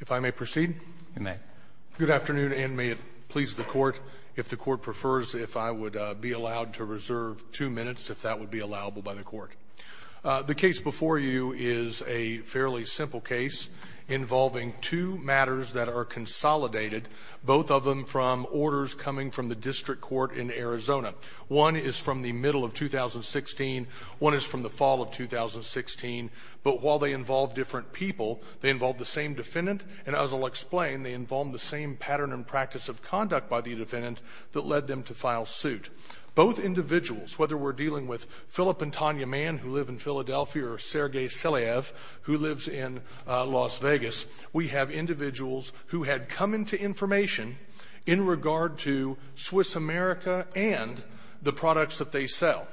If I may proceed. You may. Good afternoon, and may it please the Court, if the Court prefers, if I would be allowed to reserve two minutes, if that would be allowable by the Court. The case before you is a fairly simple case involving two matters that are consolidated, both of them from orders coming from the district court in Arizona. One is from the middle of 2016. One is from the fall of 2016. But while they involve different people, they involve the same defendant, and as I'll explain, they involve the same pattern and practice of conduct by the defendant that led them to file suit. Both individuals, whether we're dealing with Philip and Tanya Mann, who live in Philadelphia, or Sergey Selyaev, who lives in Las Vegas, we have individuals who had come into information in regard to Swiss-America and the products that they sell.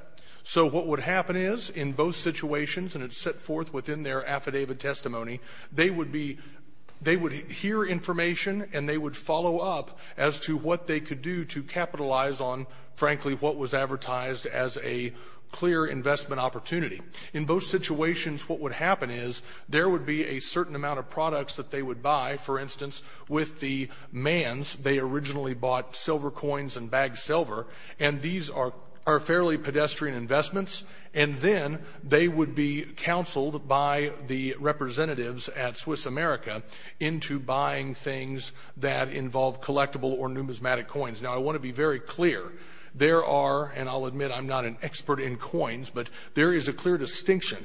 So what would happen is, in both situations, and it's set forth within their affidavit testimony, they would be — they would hear information and they would follow up as to what they could do to capitalize on, frankly, what was advertised as a clear investment opportunity. In both situations, what would happen is there would be a certain amount of products that they would buy, for instance, with the Manns. They originally bought silver coins and bagged silver. And these are fairly pedestrian investments. And then they would be counseled by the representatives at Swiss-America into buying things that involve collectible or numismatic coins. Now, I want to be very clear. There are, and I'll admit I'm not an expert in coins, but there is a clear distinction,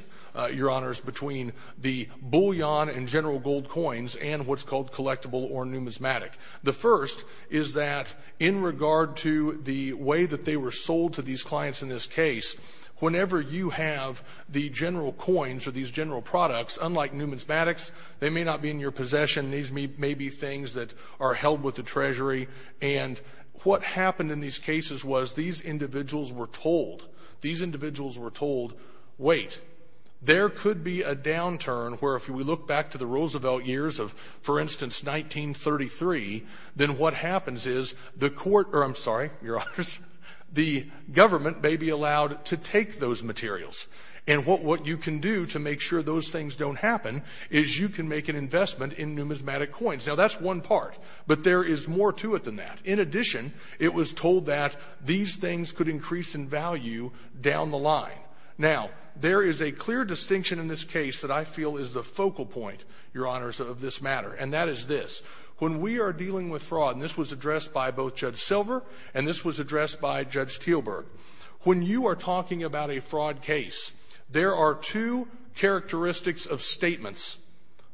Your Honors, between the bullion and general gold coins and what's called collectible or numismatic. The first is that, in regard to the way that they were sold to these clients in this case, whenever you have the general coins or these general products, unlike numismatics, they may not be in your possession. These may be things that are held with the Treasury. And what happened in these cases was these individuals were told, these individuals were told, wait, there could be a downturn where, if we look back to the Roosevelt years of, for instance, 1933, then what happens is the court, or I'm sorry, Your Honors, the government may be allowed to take those materials. And what you can do to make sure those things don't happen is you can make an investment in numismatic coins. Now, that's one part, but there is more to it than that. In addition, it was told that these things could increase in value down the line. Now, there is a clear distinction in this case that I feel is the focal point, Your Honors, of this matter, and that is this. When we are dealing with fraud, and this was addressed by both Judge Silver and this was addressed by Judge Teelburg, when you are talking about a fraud case, there are two characteristics of statements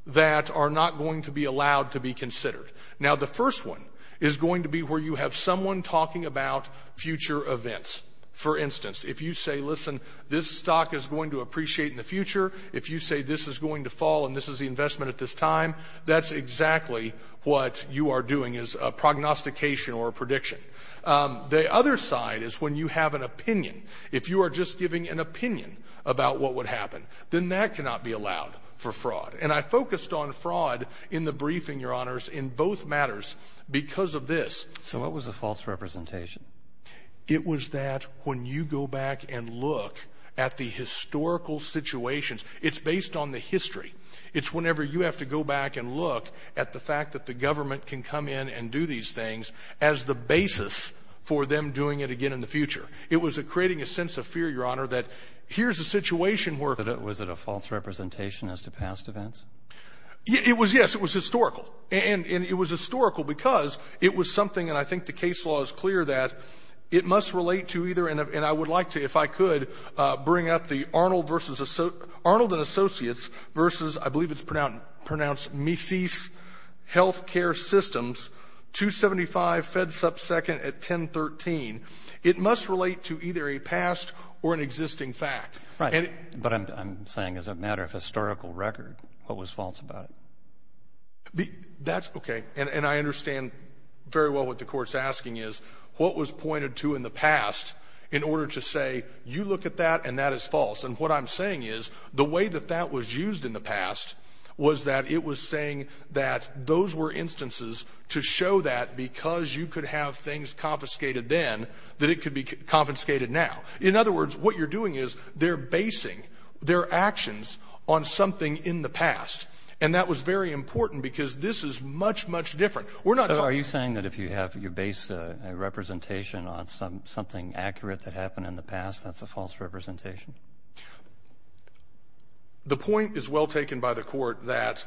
that are not going to be allowed to be considered. Now, the first one is going to be where you have someone talking about future events. For instance, if you say, listen, this stock is going to appreciate in the future, if you say this is going to fall and this is the investment at this time, that's exactly what you are doing is a prognostication or a prediction. The other side is when you have an opinion. If you are just giving an opinion about what would happen, then that cannot be allowed for fraud. And I focused on fraud in the briefing, Your Honors, in both matters because of this. So what was the false representation? It was that when you go back and look at the historical situations, it's based on the history. It's whenever you have to go back and look at the fact that the government can come in and do these things as the basis for them doing it again in the future. It was creating a sense of fear, Your Honor, that here's a situation where – Was it a false representation as to past events? Yes, it was historical. And it was historical because it was something – and I think the case law is clear that it must relate to either – and I would like to, if I could, bring up the Arnold and Associates versus, I believe it's pronounced Mises Healthcare Systems, 275 FedSupp Second at 1013. It must relate to either a past or an existing fact. Right, but I'm saying as a matter of historical record, what was false about it? That's – okay. And I understand very well what the Court's asking is what was pointed to in the past in order to say you look at that and that is false. And what I'm saying is the way that that was used in the past was that it was saying that those were instances to show that because you could have things confiscated then that it could be confiscated now. In other words, what you're doing is they're basing their actions on something in the past, and that was very important because this is much, much different. We're not – So are you saying that if you base a representation on something accurate that happened in the past, that's a false representation? The point is well taken by the Court that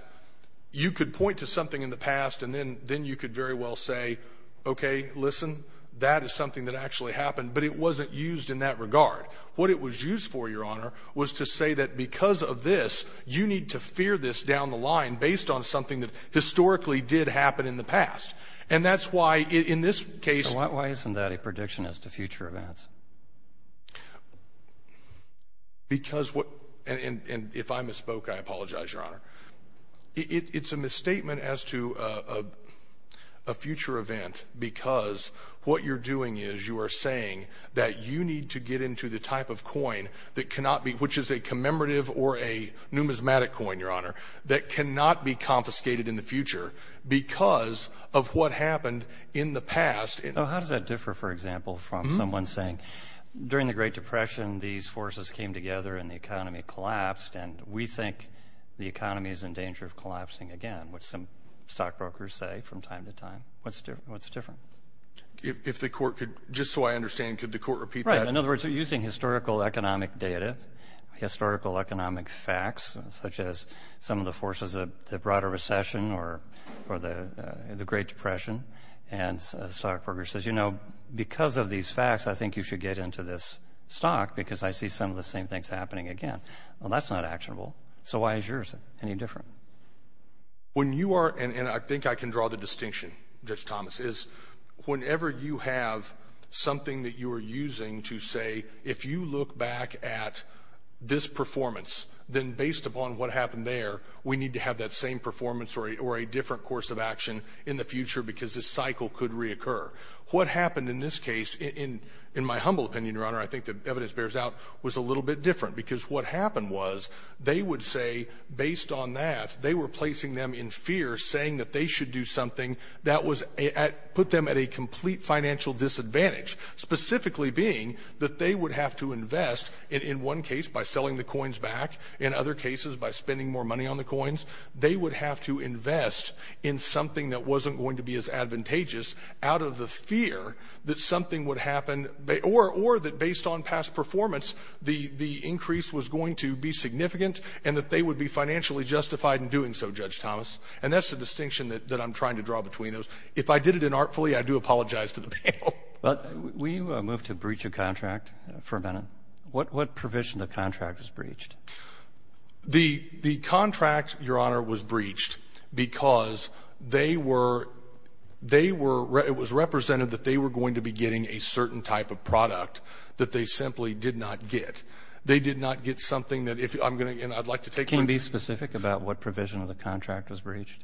you could point to something in the past and then you could very well say, okay, listen, that is something that actually happened, but it wasn't used in that regard. What it was used for, Your Honor, was to say that because of this, you need to fear this down the line based on something that historically did happen in the past. And that's why in this case – So why isn't that a prediction as to future events? Because – and if I misspoke, I apologize, Your Honor. It's a misstatement as to a future event because what you're doing is you are saying that you need to get into the type of coin that cannot be – which is a commemorative or a numismatic coin, Your Honor, that cannot be confiscated in the future because of what happened in the past. How does that differ, for example, from someone saying during the Great Depression these forces came together and the economy collapsed and we think the economy is in danger of collapsing again, which some stockbrokers say from time to time. What's different? If the court could – just so I understand, could the court repeat that? Right. In other words, you're using historical economic data, historical economic facts, such as some of the forces of the broader recession or the Great Depression, and a stockbroker says, you know, because of these facts, I think you should get into this stock because I see some of the same things happening again. Well, that's not actionable. So why is yours any different? When you are – and I think I can draw the distinction, Judge Thomas, is whenever you have something that you are using to say, if you look back at this performance, then based upon what happened there, we need to have that same performance or a different course of action in the future because this cycle could reoccur. What happened in this case, in my humble opinion, Your Honor, I think the evidence bears out, was a little bit different because what happened was they would say, based on that, they were placing them in fear, saying that they should do something that put them at a complete financial disadvantage, specifically being that they would have to invest in one case by selling the coins back, in other cases by spending more money on the coins. They would have to invest in something that wasn't going to be as advantageous out of the fear that something would happen, or that based on past performance, the increase was going to be significant and that they would be financially justified in doing so, Judge Thomas. And that's the distinction that I'm trying to draw between those. If I did it inartfully, I do apologize to the panel. Well, will you move to breach of contract for a minute? What provision of the contract was breached? The contract, Your Honor, was breached because they were – that they simply did not get. They did not get something that if – I'm going to – and I'd like to take my – Can you be specific about what provision of the contract was breached?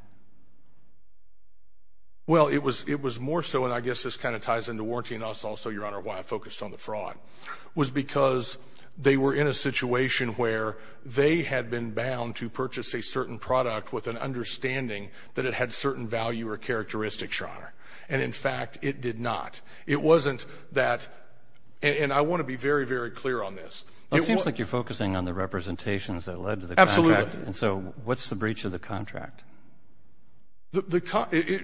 Well, it was more so – and I guess this kind of ties into warranty and also, Your Honor, why I focused on the fraud – was because they were in a situation where they had been bound to purchase a certain product with an understanding that it had certain value or characteristics, Your Honor. And, in fact, it did not. It wasn't that – and I want to be very, very clear on this. It seems like you're focusing on the representations that led to the contract. Absolutely. And so what's the breach of the contract? The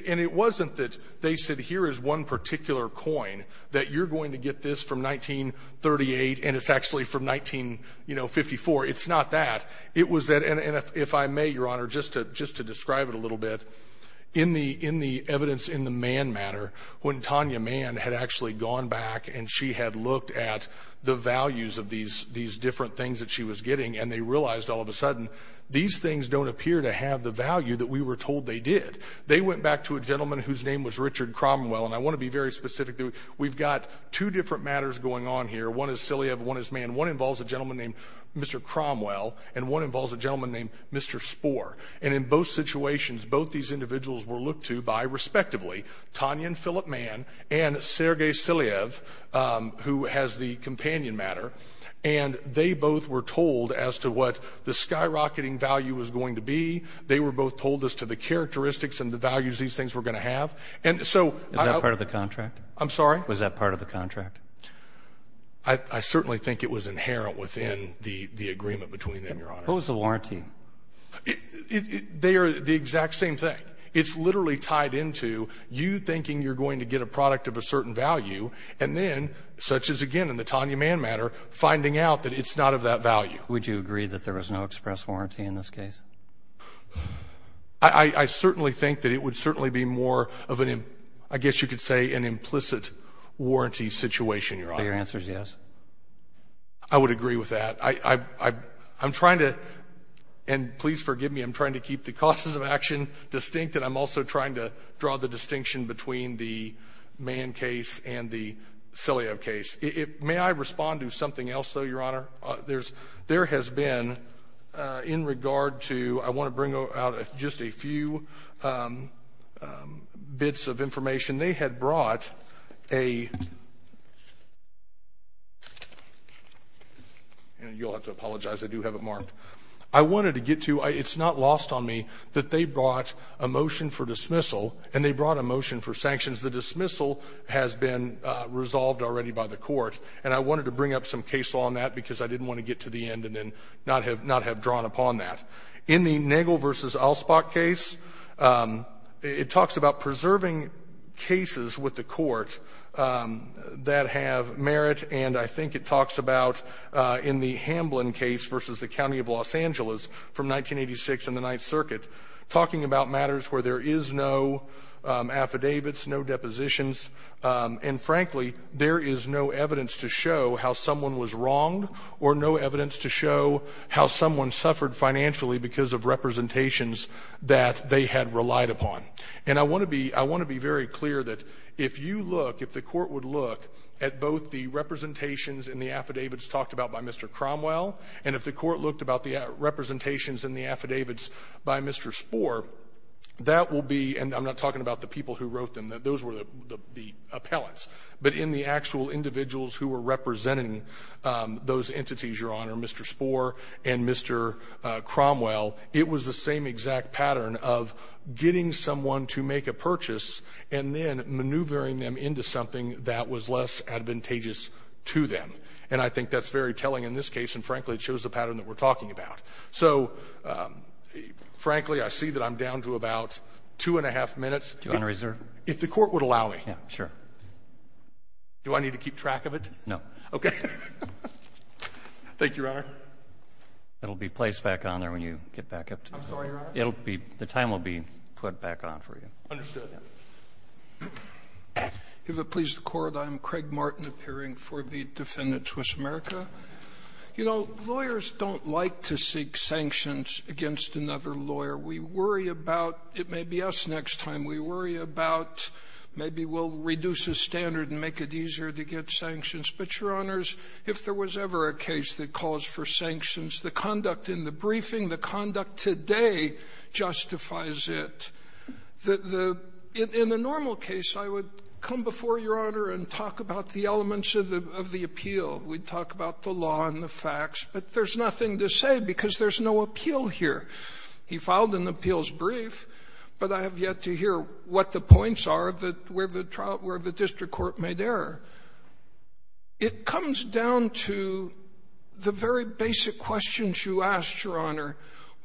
– and it wasn't that they said here is one particular coin that you're going to get this from 1938 and it's actually from 1954. It's not that. It was that – and if I may, Your Honor, just to describe it a little bit, in the evidence in the Mann matter, when Tanya Mann had actually gone back and she had looked at the values of these different things that she was getting and they realized all of a sudden, these things don't appear to have the value that we were told they did. They went back to a gentleman whose name was Richard Cromwell, and I want to be very specific. We've got two different matters going on here. One is Selyev, one is Mann. One involves a gentleman named Mr. Cromwell, and one involves a gentleman named Mr. Spor. And in both situations, both these individuals were looked to by, respectively, Tanya and Philip Mann and Sergei Selyev, who has the companion matter, and they both were told as to what the skyrocketing value was going to be. They were both told as to the characteristics and the values these things were going to have. And so – Was that part of the contract? I'm sorry? Was that part of the contract? I certainly think it was inherent within the agreement between them, Your Honor. What was the warranty? They are the exact same thing. It's literally tied into you thinking you're going to get a product of a certain value, and then, such as, again, in the Tanya Mann matter, finding out that it's not of that value. Would you agree that there was no express warranty in this case? I certainly think that it would certainly be more of an, I guess you could say, an implicit warranty situation, Your Honor. Are your answers yes? I would agree with that. I'm trying to – and please forgive me. I'm trying to keep the causes of action distinct, and I'm also trying to draw the distinction between the Mann case and the Selyev case. May I respond to something else, though, Your Honor? There has been, in regard to – I want to bring out just a few bits of information. They had brought a – you'll have to apologize. I do have it marked. I wanted to get to – it's not lost on me that they brought a motion for dismissal, and they brought a motion for sanctions. The dismissal has been resolved already by the court, and I wanted to bring up some case law on that because I didn't want to get to the end and then not have drawn upon that. In the Nagel v. Allspach case, it talks about preserving cases with the court that have merit, and I think it talks about, in the Hamblin case versus the County of Los Angeles from 1986 and the Ninth Circuit, talking about matters where there is no affidavits, no depositions, and, frankly, there is no evidence to show how someone was wronged or no evidence to show how someone suffered financially because of representations that they had relied upon. And I want to be – I want to be very clear that if you look, if the court would look at both the representations and the affidavits talked about by Mr. Cromwell and if the court looked about the representations and the affidavits by Mr. Spohr, that will be – and I'm not talking about the people who wrote them. Those were the appellants. But in the actual individuals who were representing those entities, Your Honor, Mr. Spohr and Mr. Cromwell, it was the same exact pattern of getting someone to make a purchase and then maneuvering them into something that was less advantageous to them. And I think that's very telling in this case, and, frankly, it shows the pattern that we're talking about. So, frankly, I see that I'm down to about two and a half minutes. Do you want to reserve? If the court would allow me. Yeah, sure. Do I need to keep track of it? No. Okay. Thank you, Your Honor. It'll be placed back on there when you get back up to the floor. I'm sorry, Your Honor. It'll be – the time will be put back on for you. Understood. If it pleases the Court, I am Craig Martin, appearing for the defendant, Swiss America. You know, lawyers don't like to seek sanctions against another lawyer. We worry about – it may be us next time – we worry about maybe we'll reduce the standard and make it easier to get sanctions. But, Your Honors, if there was ever a case that calls for sanctions, the conduct in the briefing, the conduct today justifies it. In the normal case, I would come before Your Honor and talk about the elements of the appeal. We'd talk about the law and the facts. But there's nothing to say because there's no appeal here. He filed an appeals brief, but I have yet to hear what the points are that – where the trial – where the district court made error. It comes down to the very basic questions you asked, Your Honor.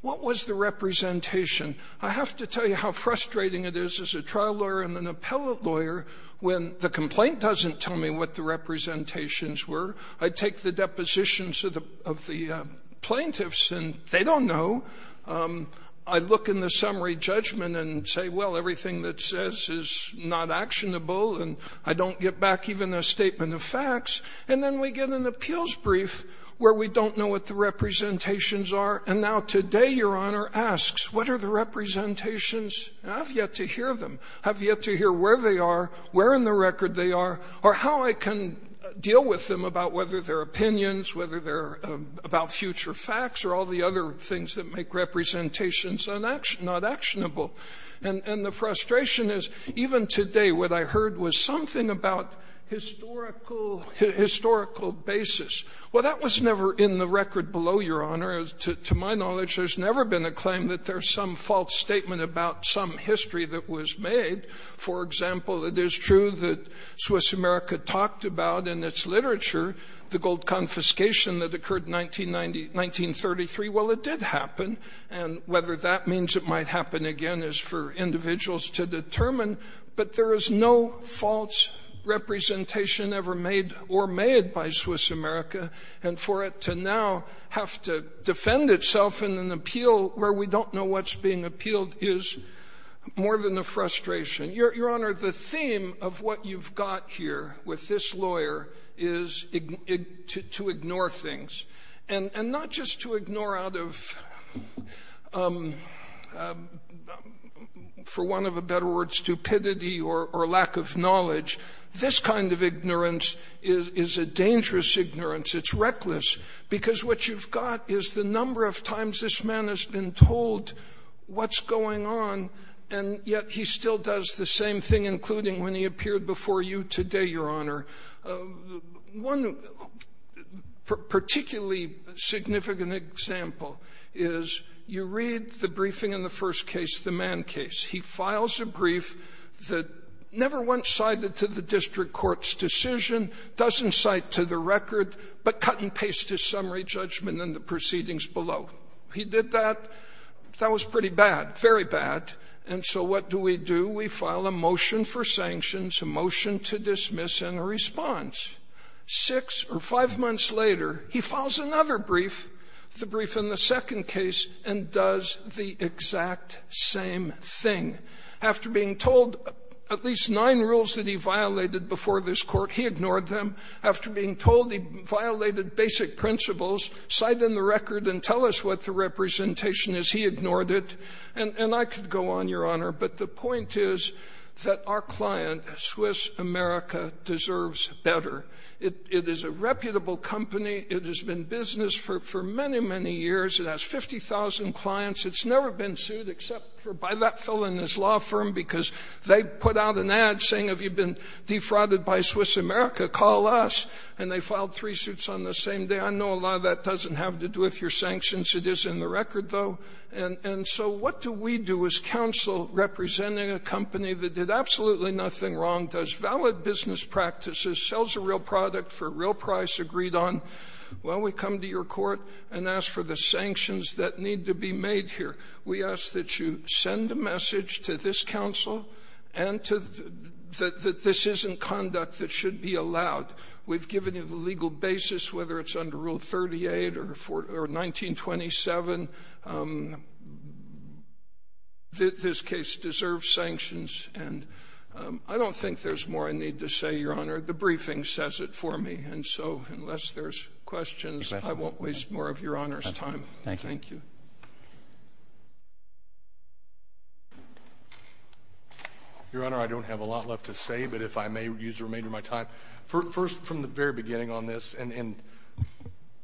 What was the representation? I have to tell you how frustrating it is as a trial lawyer and an appellate lawyer when the complaint doesn't tell me what the representations were. I take the depositions of the plaintiffs and they don't know. I look in the summary judgment and say, well, everything that says is not actionable and I don't get back even a statement of facts. And then we get an appeals brief where we don't know what the representations are. And now today Your Honor asks, what are the representations? I have yet to hear them. I have yet to hear where they are, where in the record they are, or how I can deal with them about whether they're opinions, whether they're about future facts, or all the other things that make representations not actionable. And the frustration is even today what I heard was something about historical basis. Well, that was never in the record below, Your Honor. To my knowledge, there's never been a claim that there's some false statement about some history that was made. For example, it is true that Swiss America talked about in its literature the gold confiscation that occurred in 1933. Well, it did happen. And whether that means it might happen again is for individuals to determine. But there is no false representation ever made or made by Swiss America. And for it to now have to defend itself in an appeal where we don't know what's being appealed is more than a frustration. Your Honor, the theme of what you've got here with this lawyer is to ignore things. And not just to ignore out of, for want of a better word, stupidity or lack of knowledge. This kind of ignorance is a dangerous ignorance. It's reckless. Because what you've got is the number of times this man has been told what's going on, and yet he still does the same thing, including when he appeared before you today, Your Honor. One particularly significant example is you read the briefing in the first case, the Mann case. He files a brief that never once cited to the district court's decision, doesn't cite to the record, but cut and paste his summary judgment in the proceedings below. He did that. That was pretty bad, very bad. And so what do we do? We file a motion for sanctions, a motion to dismiss, and a response. Six or five months later, he files another brief, the brief in the second case, and does the exact same thing. After being told at least nine rules that he violated before this court, he ignored them. After being told he violated basic principles, cite in the record and tell us what the representation is, he ignored it. And I could go on, Your Honor, but the point is that our client, Swiss America, deserves better. It is a reputable company. It has been business for many, many years. It has 50,000 clients. It's never been sued except for by that fellow in his law firm because they put out an ad saying, have you been defrauded by Swiss America? Call us. And they filed three suits on the same day. I know a lot of that doesn't have to do with your sanctions. It is in the record, though. And so what do we do as counsel representing a company that did absolutely nothing wrong, does valid business practices, sells a real product for a real price, agreed on? Well, we come to your court and ask for the sanctions that need to be made here. We ask that you send a message to this counsel that this isn't conduct that should be allowed. We've given you the legal basis, whether it's under Rule 38 or 1927. This case deserves sanctions. And I don't think there's more I need to say, Your Honor. The briefing says it for me. And so unless there's questions, I won't waste more of Your Honor's time. Thank you. Your Honor, I don't have a lot left to say, but if I may use the remainder of my time. First, from the very beginning on this, and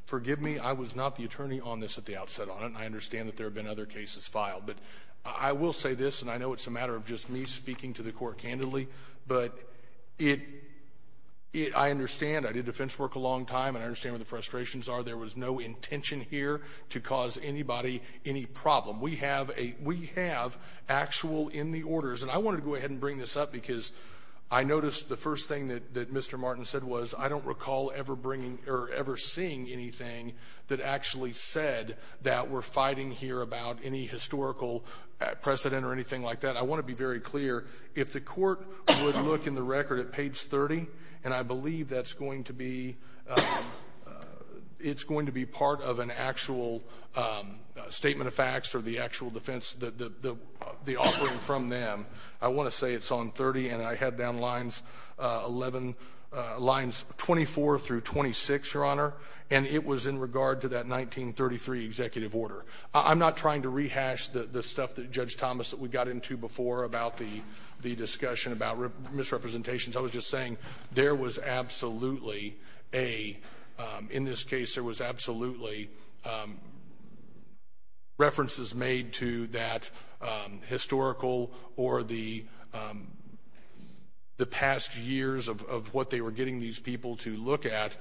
forgive me, I was not the attorney on this at the outset on it, and I understand that there have been other cases filed. But I will say this, and I know it's a matter of just me speaking to the court candidly, but I understand. I did defense work a long time, and I understand where the frustrations are. There was no intention here to cause anybody any problem. We have actual in the orders. And I wanted to go ahead and bring this up, because I noticed the first thing that Mr. Martin said was, I don't recall ever seeing anything that actually said that we're fighting here about any historical precedent or anything like that. I want to be very clear. If the court would look in the record at page 30, and I believe that's going to be part of an actual statement of facts or the actual defense, the offering from them, I want to say it's on 30, and I had down lines 24 through 26, Your Honor, and it was in regard to that 1933 executive order. I'm not trying to rehash the stuff that Judge Thomas, that we got into before about the discussion about misrepresentations. I was just saying there was absolutely a, in this case, there was absolutely references made to that historical or the past years of what they were getting these people to look at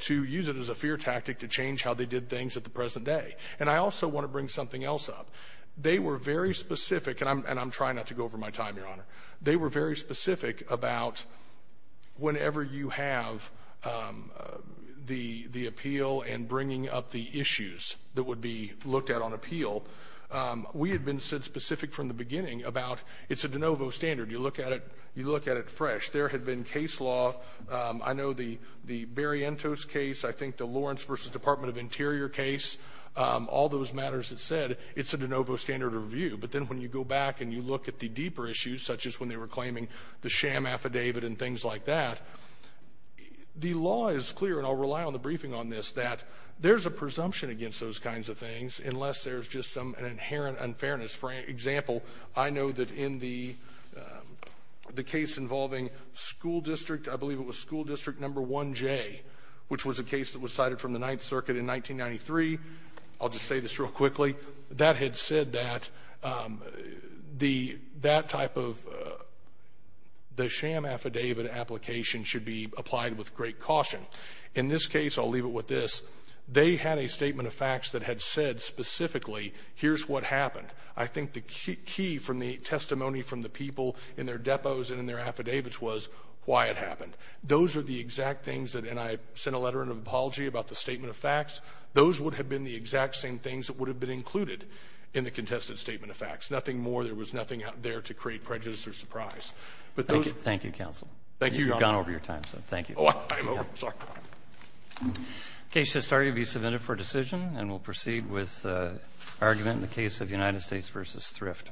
to use it as a fear tactic to change how they did things at the present day. I also want to bring something else up. They were very specific, and I'm trying not to go over my time, Your Honor. They were very specific about whenever you have the appeal and bringing up the issues that would be looked at on appeal, we had been specific from the beginning about it's a de novo standard. You look at it fresh. There had been case law. I know the Berrientos case, I think the Lawrence versus Department of Interior case, all those matters that's said, it's a de novo standard review, but then when you go back and you look at the deeper issues, such as when they were claiming the sham affidavit and things like that, the law is clear, and I'll rely on the briefing on this, that there's a presumption against those kinds of things unless there's just some inherent unfairness. For example, I know that in the case involving school district, I believe it was school district number 1J, which was a case that was cited from the Ninth Circuit in 1993, I'll just say this real quickly, that had said that that type of the sham affidavit application should be applied with great caution. In this case, I'll leave it with this, they had a statement of facts that had said specifically here's what happened. I think the key from the testimony from the people in their depots and in their affidavits was why it happened. Those are the exact things that, and I sent a letter of apology about the statement of facts, those would have been the exact same things that would have been included in the contested statement of facts. Nothing more, there was nothing out there to create prejudice or surprise. But those. Thank you, counsel. Thank you, Your Honor. You've gone over your time, so thank you. Oh, I'm over. Sorry. The case has started to be submitted for decision, and we'll proceed with argument in the case of United States v. Thrift.